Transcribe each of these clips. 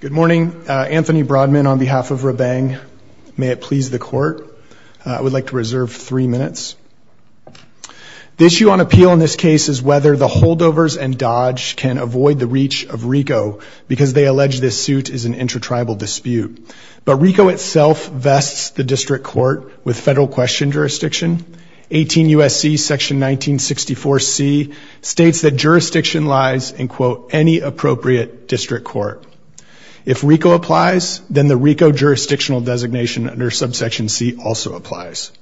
Good morning. Anthony Broadman on behalf of Rabang. May it please the court. I would like to reserve three minutes. The issue on appeal in this case is whether the Holdovers and Dodge can avoid the reach of RICO because they allege this suit is an intratribal dispute. But RICO itself vests the district court with federal question jurisdiction. 18 U.S.C. section 1964 C states that jurisdiction lies in quote, any appropriate district court. If RICO applies, then the RICO jurisdictional designation under subsection C also applies.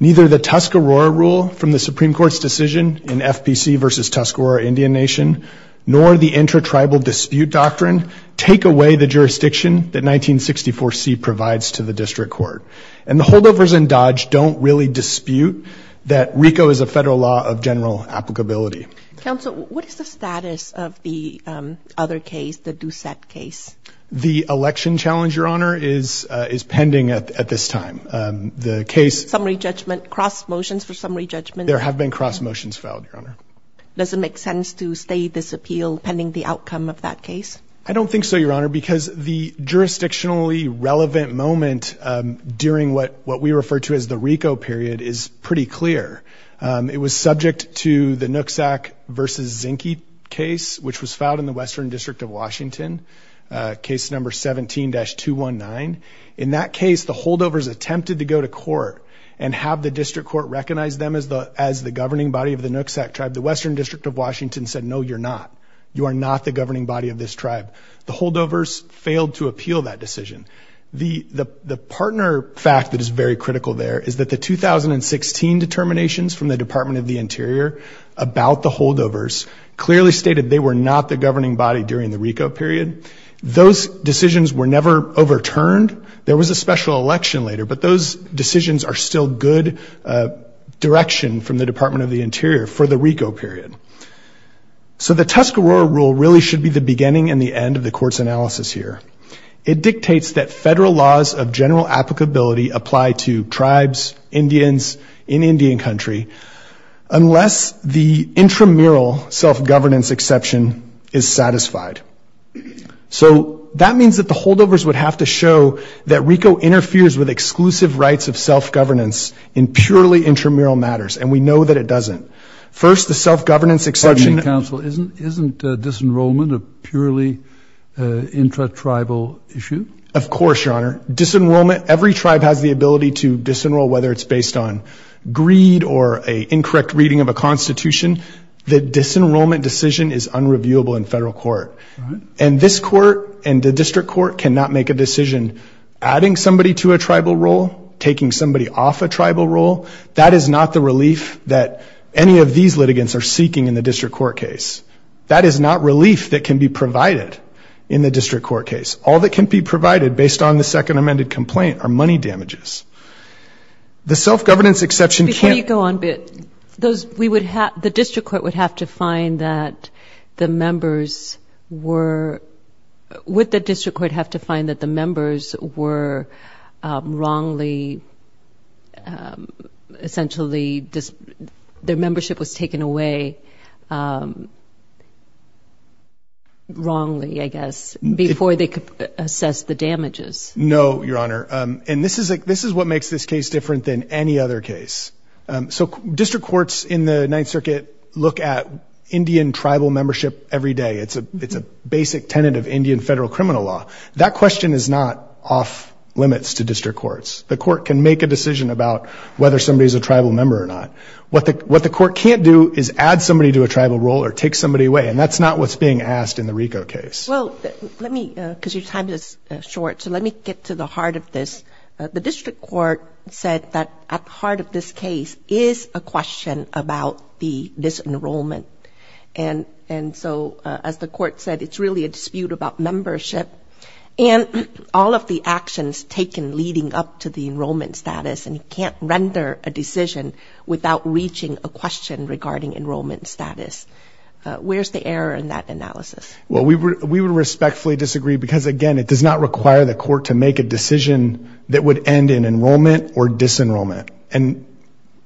Neither the Tuscarora rule from the Supreme Court's decision in FPC versus Tuscarora Indian Nation, nor the intratribal dispute doctrine, take away the jurisdiction that 1964 C provides to the district court. And the Holdovers and Dodge don't really dispute that RICO is a federal law of general applicability. Counsel, what is the status of the other case, the Doucette case? The election challenge, Your Honor, is pending at this time. The case Summary judgment, cross motions for summary judgment There have been cross motions filed, Your Honor. Does it make sense to stay this appeal pending the outcome of that case? I don't think so, Your Honor, because the jurisdictionally relevant moment during what what we refer to as the RICO period is pretty clear. It was subject to the Nooksack versus Zinke case, which was filed in the Western District of Washington. Case number 17-219. In that case, the Holdovers attempted to go to court and have the district court recognize them as the as the governing body of the Nooksack tribe. The Western District of Washington said no, you're not. You are not the governing body of this tribe. The Holdovers failed to appeal that decision. The partner fact that is very critical there is that the 2016 determinations from the Department of the Interior about the Holdovers clearly stated they were not the governing body during the RICO period. Those decisions were never overturned. There was a special election later, but those decisions are still good direction from the Department of the Interior for the RICO period. So the Tuscarora rule really should be the beginning and the end of the court's analysis here. It dictates that federal laws of general applicability apply to tribes, Indians, in Indian country, unless the intramural self-governance exception is satisfied. So that means that the Holdovers would have to show that RICO interferes with exclusive rights of self-governance in purely intramural matters, and we know that it doesn't. First, the self-governance exception... Pardon me, counsel. Isn't disenrollment a purely intratribal issue? Of course, Your Honor. Disenrollment, every tribe has the ability to disenroll whether it's based on greed or an incorrect reading of a constitution. The disenrollment decision is unreviewable in federal court. And this court and the district court cannot make a reliable rule. That is not the relief that any of these litigants are seeking in the district court case. That is not relief that can be provided in the district court case. All that can be provided based on the second amended complaint are money damages. The self-governance exception can't... Before you go on, the district court would have to find that the members were, would have to find that essentially their membership was taken away wrongly, I guess, before they could assess the damages. No, Your Honor. And this is what makes this case different than any other case. So district courts in the Ninth Circuit look at Indian tribal membership every day. It's a basic tenet of Indian federal criminal law. That question is not off limits to district courts. The court can make a decision about whether somebody is a tribal member or not. What the court can't do is add somebody to a tribal role or take somebody away. And that's not what's being asked in the RICO case. Well, let me, because your time is short, so let me get to the heart of this. The district court said that at the heart of this case is a question about the disenrollment. And so as the court said, it's really a dispute about membership. And all of the actions taken leading up to the enrollment status, and you can't render a decision without reaching a question regarding enrollment status. Where's the error in that analysis? Well, we would respectfully disagree because, again, it does not require the court to make a decision that would end in enrollment or disenrollment. And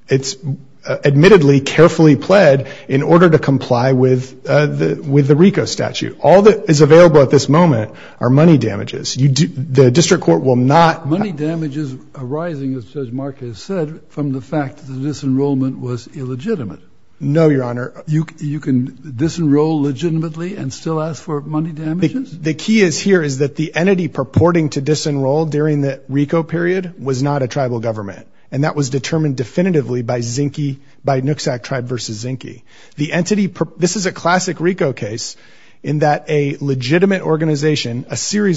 it's admittedly carefully pled in order to comply with the RICO statute. All that is available at this moment are money damages. You do, the district court will not... Money damages arising, as Judge Mark has said, from the fact that the disenrollment was illegitimate. No, Your Honor. You can disenroll legitimately and still ask for money damages? The key is here is that the entity purporting to disenroll during the RICO period was not a tribal government. And that was determined definitively by Zinke, by Nooksack Tribe versus Zinke. The entity, this is a classic RICO case in that a legitimate organization, a formerly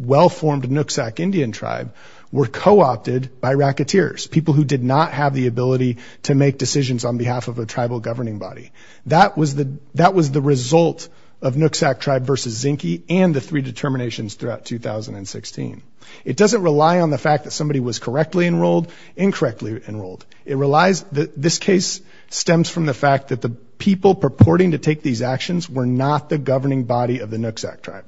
well-formed Nooksack Indian tribe were co-opted by racketeers, people who did not have the ability to make decisions on behalf of a tribal governing body. That was the result of Nooksack Tribe versus Zinke and the three determinations throughout 2016. It doesn't rely on the fact that somebody was correctly enrolled, incorrectly enrolled. It relies... This case stems from the fact that the people purporting to take these actions were not the governing body of the Nooksack Tribe.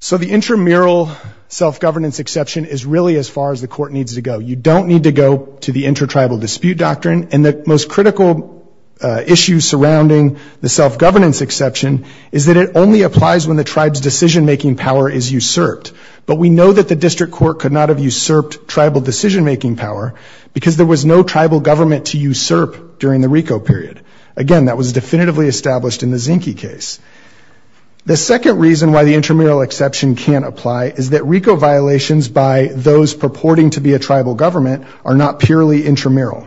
So the intramural self-governance exception is really as far as the court needs to go. You don't need to go to the inter-tribal dispute doctrine. And the most critical issue surrounding the self-governance exception is that it only applies when the tribe's decision-making power is usurped. But we know that the district court could not have usurped tribal decision-making power because there was no tribal government to usurp during the RICO period. Again, that was definitively established in the Zinke case. The second reason why the intramural exception can't apply is that RICO violations by those purporting to be a tribal government are not purely intramural.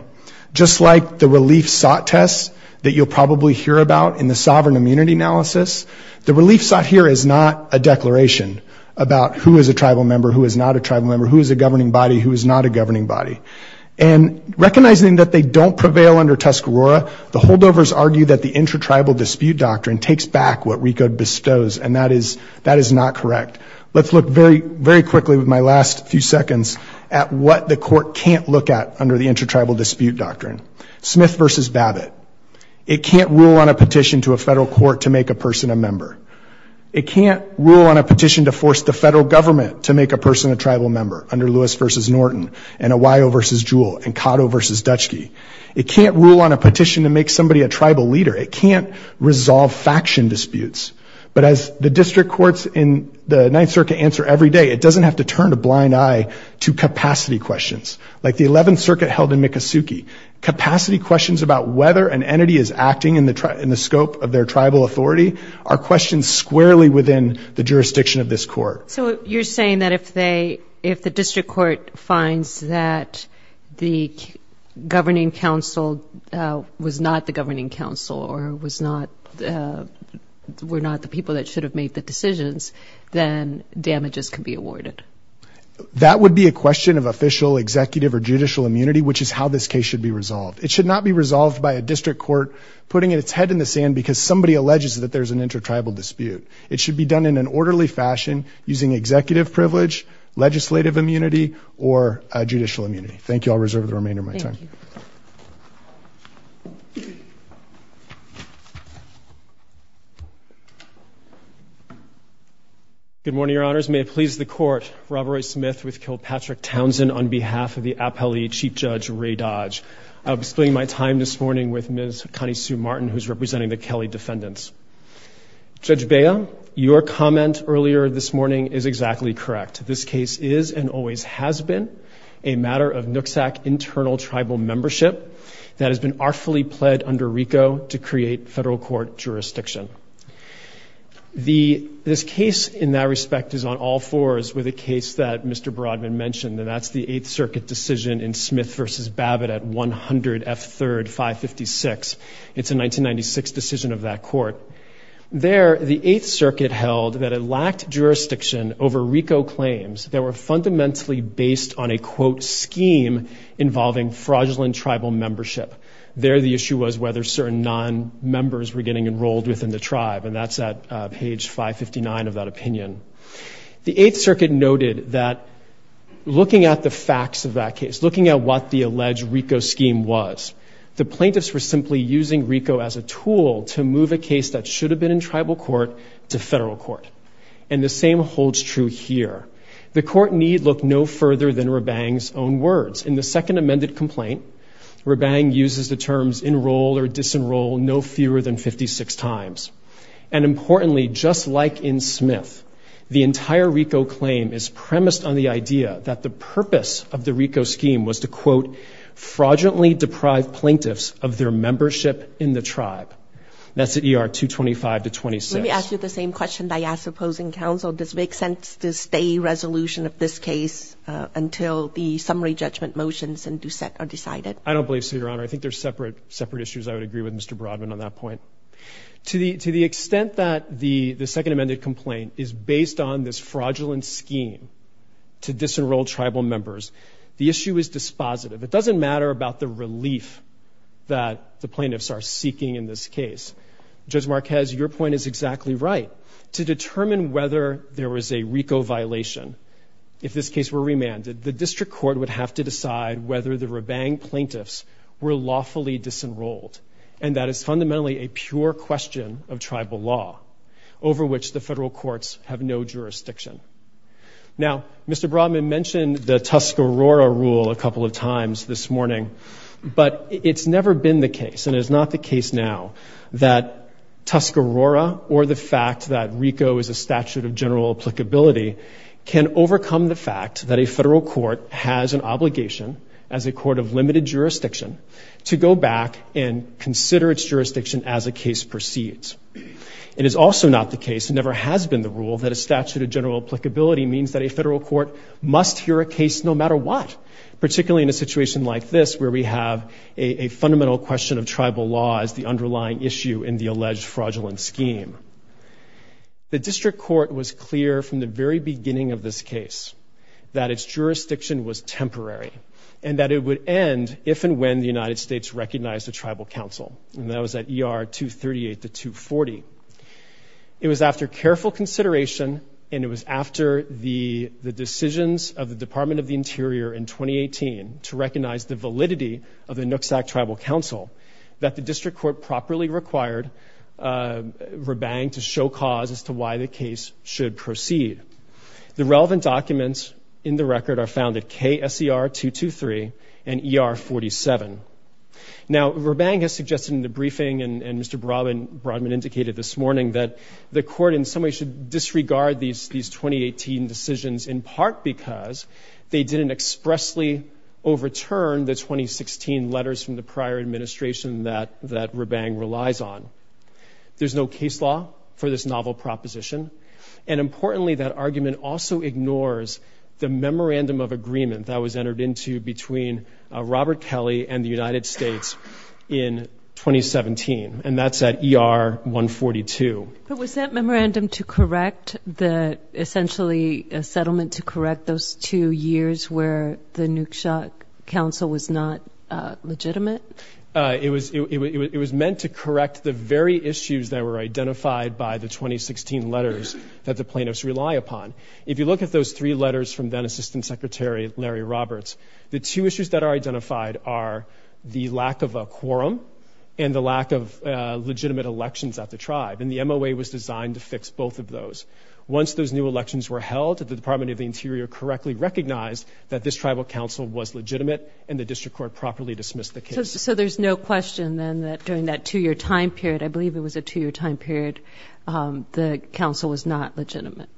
Just like the relief sought tests that you'll probably hear about in the sovereign immunity analysis, the relief sought here is not a declaration about who is a tribal member, who is not a tribal member, who is a governing body, who is not a governing body. And recognizing that they don't prevail under Tuscarora, the holdovers argue that the inter-tribal dispute doctrine takes back what RICO bestows, and that is not correct. Let's look very quickly with my last few seconds at what the court can't look at under the inter-tribal dispute doctrine. Smith v. Babbitt. It can't rule on a petition to a federal court to make a person a member. It can't rule on a petition to force the federal government to make a person a tribal member under Lewis v. Norton, and Awio v. Jewell, and Cotto v. Zduchky. It can't rule on a petition to make somebody a tribal leader. It can't resolve faction disputes. But as the district courts in the Ninth Circuit answer every day, it doesn't have to turn a blind eye to capacity questions. Like the Eleventh Circuit held in Miccosukee, capacity questions about whether an entity is acting in the scope of their tribal authority are questions squarely within the jurisdiction of this court. So you're saying that if they, if the district court finds that the governing council was not the governing council or was not, were not the people that should have made the decisions, then damages can be awarded? That would be a question of official, executive, or judicial immunity, which is how this case should be resolved. It should not be resolved by a district court putting its head in the sand because somebody alleges that there's an inter-tribal dispute. It should be done in an orderly fashion using executive privilege, legislative immunity, or judicial immunity. Thank you. I'll reserve the remainder of my time. Good morning, Your Honors. May it please the Court, Rob Roy Smith with Kilpatrick Townsend on behalf of the appellee Chief Judge Ray Dodge. I'll be spending my time this morning with Ms. Connie Sue Martin, who's representing the Kelly defendants. Judge Bea, your comment earlier this morning is exactly correct. This case is and always has been a matter of Nooksack internal tribal membership that has been artfully pled under RICO to create federal court jurisdiction. This case in that respect is on all fours with a case that Mr. Broadman mentioned, and that's the Eighth Circuit decision in Smith v. Babbitt at 100 F3rd 556. It's a 1996 decision of that court. There, the Eighth Circuit held that it lacked jurisdiction over RICO claims that were fundamentally based on a quote, scheme involving fraudulent tribal membership. There the issue was whether certain non-members were getting enrolled within the tribe, and that's at page 559 of that opinion. The Eighth Circuit noted that looking at the facts of that case, looking at what the alleged RICO scheme was, the plaintiffs were simply using RICO as a tool to move a case that should have been in tribal court to federal court. And the same holds true here. The court need look no further than Rabang's own words. In the second amended complaint, Rabang uses the terms enroll or disenroll no fewer than 56 times. And importantly, just like in Smith, the entire RICO claim is premised on the idea that the purpose of the RICO scheme was to quote, fraudulently deprive plaintiffs of their membership in the tribe. That's at ER 225 to 26. Let me ask you the same question I asked opposing counsel. Does it make sense to stay resolution of this case until the summary judgment motions are decided? I don't believe so, Your Honor. I think there's separate issues I would agree with Mr. Broadman on that point. To the extent that the second amended complaint is based on this fraudulent scheme to disenroll tribal members, the issue is dispositive. It doesn't matter about the relief that the plaintiffs are seeking in this case. Judge Marquez, your point is exactly right. To determine whether there was a RICO violation, if this case were remanded, the district court would have to decide whether the Rabang plaintiffs were lawfully disenrolled. And that is fundamentally a pure question of tribal law, over which the federal courts have no jurisdiction. Now, Mr. Broadman mentioned the Tuscarora rule a couple of times this morning, but it's never been the case, and it is not the case now, that Tuscarora or the fact that RICO is a statute of general applicability can overcome the fact that a federal court has an obligation, as a court of limited jurisdiction, to go back and consider its jurisdiction as a case proceeds. It is also not the case, and never has been the rule, that a statute of general applicability means that a federal court must hear a case no matter what, particularly in a situation like this, where we have a fundamental question of tribal law as the underlying issue in the alleged fraudulent scheme. The district court was clear from the very beginning of this case that its jurisdiction was temporary, and that it would end if and when the United States recognized a tribal council, and that was at ER 238 to 240. It was after careful consideration, and it was after the decisions of the Department of the Interior in 2018 to recognize the validity of the Nooksack Tribal Council, that the district court properly required Rabang to show cause as to why the case should proceed. The relevant documents in the record are found at KSER 223 and ER 47. Now, Rabang has suggested in the briefing, and Mr. Broadman indicated this morning, that the court in some way should disregard these 2018 decisions, in part because they didn't expressly overturn the 2016 letters from the prior administration that Rabang relies on. There's no case law for this novel proposition, and importantly, that argument also ignores the memorandum of agreement that was entered into between Robert Kelly and the United States in 2017, and that's at ER 142. Was that memorandum to correct the, essentially a settlement to correct those two years where the Nooksack Council was not legitimate? It was meant to correct the very issues that were identified by the 2016 letters that the plaintiffs rely upon. If you look at those three letters from then Assistant Secretary Larry Roberts, the two issues that are identified are the lack of a quorum and the lack of legitimate elections at the tribe, and the MOA was designed to fix both of those. Once those new elections were held, the Department of the Interior correctly recognized that this tribal council was legitimate, and the district court properly dismissed the case. So there's no question then that during that two-year time period, I believe it was a two-year time period, the council was not legitimate.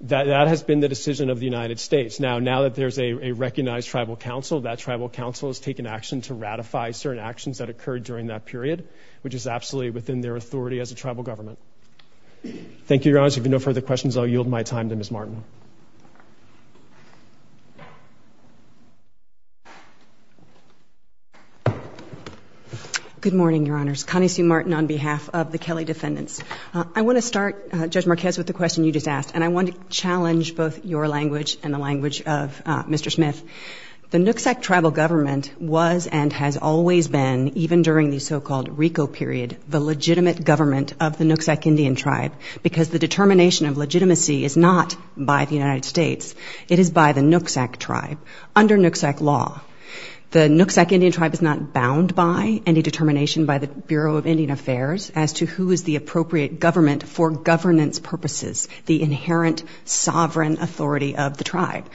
That has been the decision of the United States. Now that there's a recognized tribal council, that tribal council has taken action to ratify certain actions that occurred during that period, which is absolutely within their authority as a tribal government. Thank you, Your Honor. If you have no further questions, I'll yield my time to Ms. Martin. Good morning, Your Honors. Connie Sue Martin on behalf of the Kelly Defendants. I want to start, Judge Marquez, with the question you just asked, and I want to challenge both your language and the language of Mr. Smith. The Nooksack Tribal Government was and has always been, even during the so-called RICO period, the legitimate government of the Nooksack Indian Tribe, because the determination of legitimacy is not by the United States, it is by the Nooksack Tribe, under Nooksack law. The Nooksack Indian Tribe is not bound by any determination by the Bureau of Indian Affairs as to who is the appropriate government for governance purposes, the inherent sovereign authority of the tribe.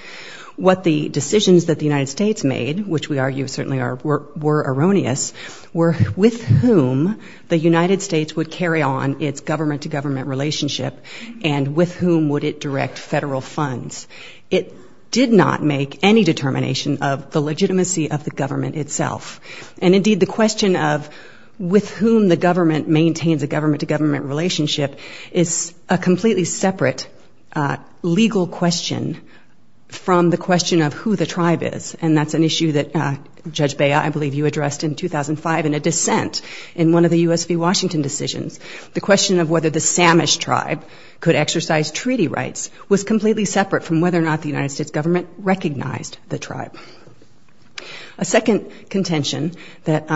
What the decisions that the United States made, which we argue certainly were erroneous, were with whom the United States would carry on its government-to-government relationship, and with whom would it direct federal funds. It did not make any determination of the legitimacy of the government itself. And indeed, the question of with whom the government maintains a government-to-government relationship is a completely separate legal question from the question of who the tribe is, and that's an issue that, Judge Beya, I believe you addressed in 2005 in a dissent in one of the U.S. v. Washington decisions. The question of whether the Samish tribe could exercise treaty rights was completely separate from whether or not the United States government recognized the tribe. A second contention that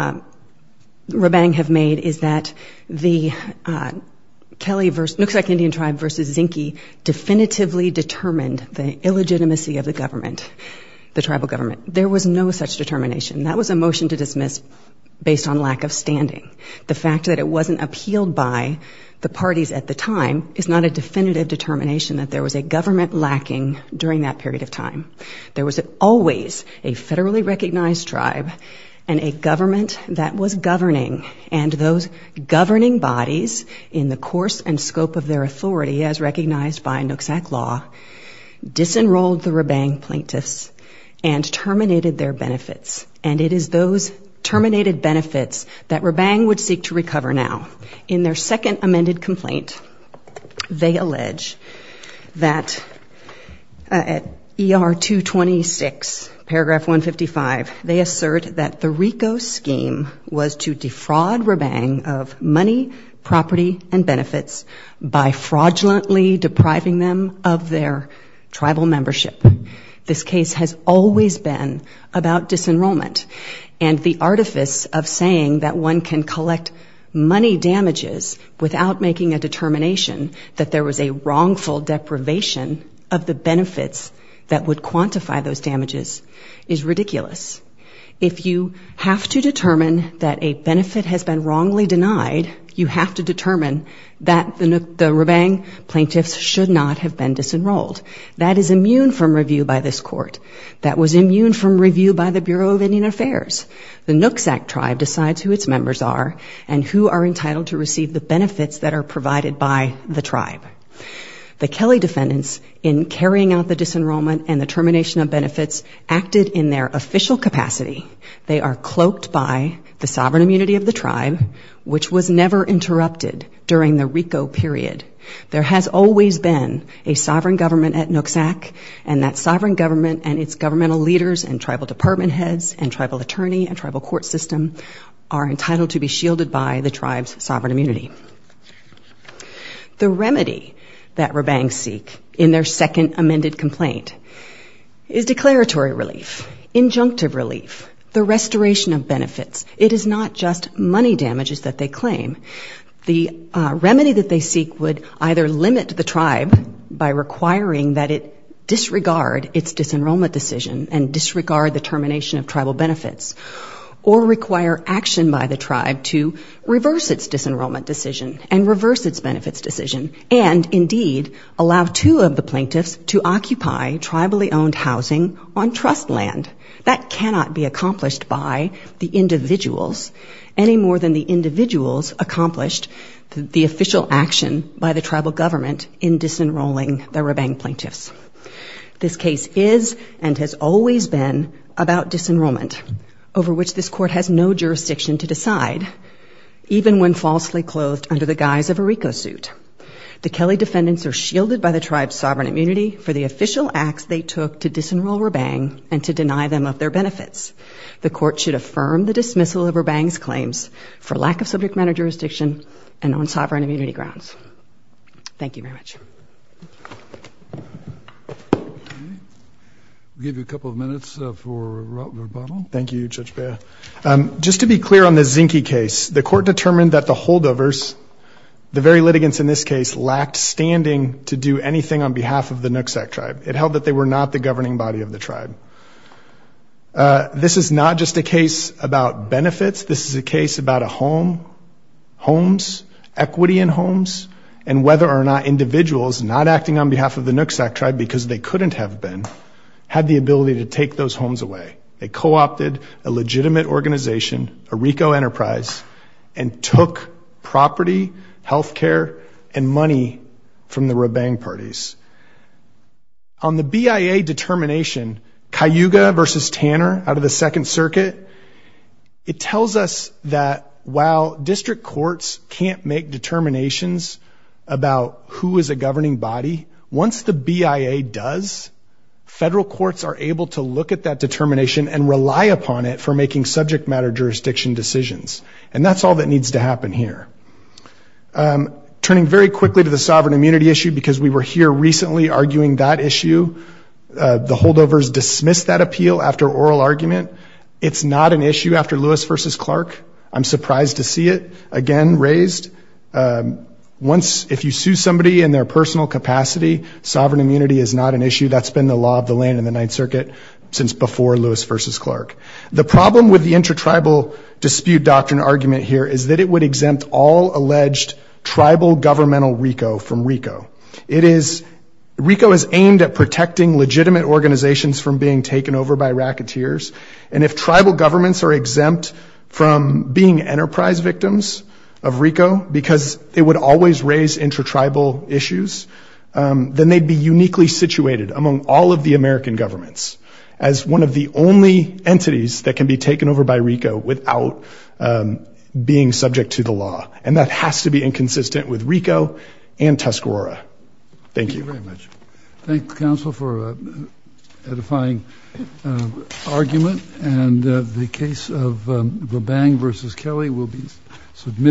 Rabang have made is that the Nooksack Indian Tribe v. Zinke definitively determined the illegitimacy of the government, the tribal government. There was no such determination. That was a motion to dismiss based on lack of standing. The fact that it wasn't appealed by the parties at the time is not a definitive determination that there was a government lacking during that period of time. There was always a federally recognized tribe and a government that was governing, and those governing bodies, in the course and scope of their authority as recognized by Nooksack law, disenrolled the Rabang plaintiffs and terminated their benefits. And it is those terminated benefits that Rabang would seek to recover now. In their second amended complaint, they allege that at ER 226, paragraph 155, they assert that the RICO scheme was to defraud Rabang of money, property, and benefits by fraudulently depriving them of their tribal membership. This case has always been about disenrollment and the artifice of saying that one can collect money damages without making a determination that there was a wrongful deprivation of the benefits that would quantify those damages is ridiculous. If you have to determine that a benefit has been wrongly denied, you have to determine that the Rabang plaintiffs should not have been disenrolled. That is immune from review by this court. That was immune from review by the Bureau of Indian Affairs. The Nooksack tribe decides who its members are and who are entitled to receive the benefits that are provided by the tribe. The Kelly defendants, in carrying out the disenrollment and the termination of benefits, acted in their official capacity. They are cloaked by the sovereign immunity of the tribe, which was never interrupted during the RICO period. There has always been a sovereign government at Nooksack, and that sovereign government and its governmental leaders and tribal department heads and tribal attorney and tribal court system are entitled to be shielded by the tribe's sovereign immunity. The remedy that Rabangs seek in their second amended complaint is declaratory relief, injunctive relief, the restoration of benefits. It is not just money damages that they claim. The disregard its disenrollment decision and disregard the termination of tribal benefits, or require action by the tribe to reverse its disenrollment decision and reverse its benefits decision, and indeed allow two of the plaintiffs to occupy tribally owned housing on trust land. That cannot be accomplished by the individuals, any more than the individuals accomplished the official action by the tribal government in disenrolling the Rabang plaintiffs. This case is and has always been about disenrollment, over which this court has no jurisdiction to decide, even when falsely clothed under the guise of a RICO suit. The Kelly defendants are shielded by the tribe's sovereign immunity for the official acts they took to disenroll Rabang and to deny them of their benefits. The court should affirm the dismissal of Rabang's and own sovereign immunity grounds. Thank you very much. We'll give you a couple of minutes for Robert Bonnell. Thank you, Judge Beyer. Just to be clear on the Zinke case, the court determined that the holdovers, the very litigants in this case, lacked standing to do anything on behalf of the Nooksack tribe. It held that they were not the governing body of the tribe. This is not just a case about benefits. This is a case about a home, homes, equity in homes, and whether or not individuals not acting on behalf of the Nooksack tribe, because they couldn't have been, had the ability to take those homes away. They co-opted a legitimate organization, a RICO enterprise, and took property, health care, and money from the second circuit. It tells us that while district courts can't make determinations about who is a governing body, once the BIA does, federal courts are able to look at that determination and rely upon it for making subject matter jurisdiction decisions. And that's all that needs to happen here. Turning very quickly to the sovereign immunity issue, because we were here recently arguing that issue, the holdovers dismissed that appeal after oral argument. It's not an issue after Lewis v. Clark. I'm surprised to see it again raised. Once, if you sue somebody in their personal capacity, sovereign immunity is not an issue. That's been the law of the land in the Ninth Circuit since before Lewis v. Clark. The problem with the intertribal dispute doctrine argument here is that it would exempt all alleged tribal governmental RICO from being taken over by racketeers. And if tribal governments are exempt from being enterprise victims of RICO because it would always raise intertribal issues, then they'd be uniquely situated among all of the American governments as one of the only entities that can be taken over by RICO without being subject to the law. And that has to be inconsistent with RICO and Tuscarora. Thank you very much.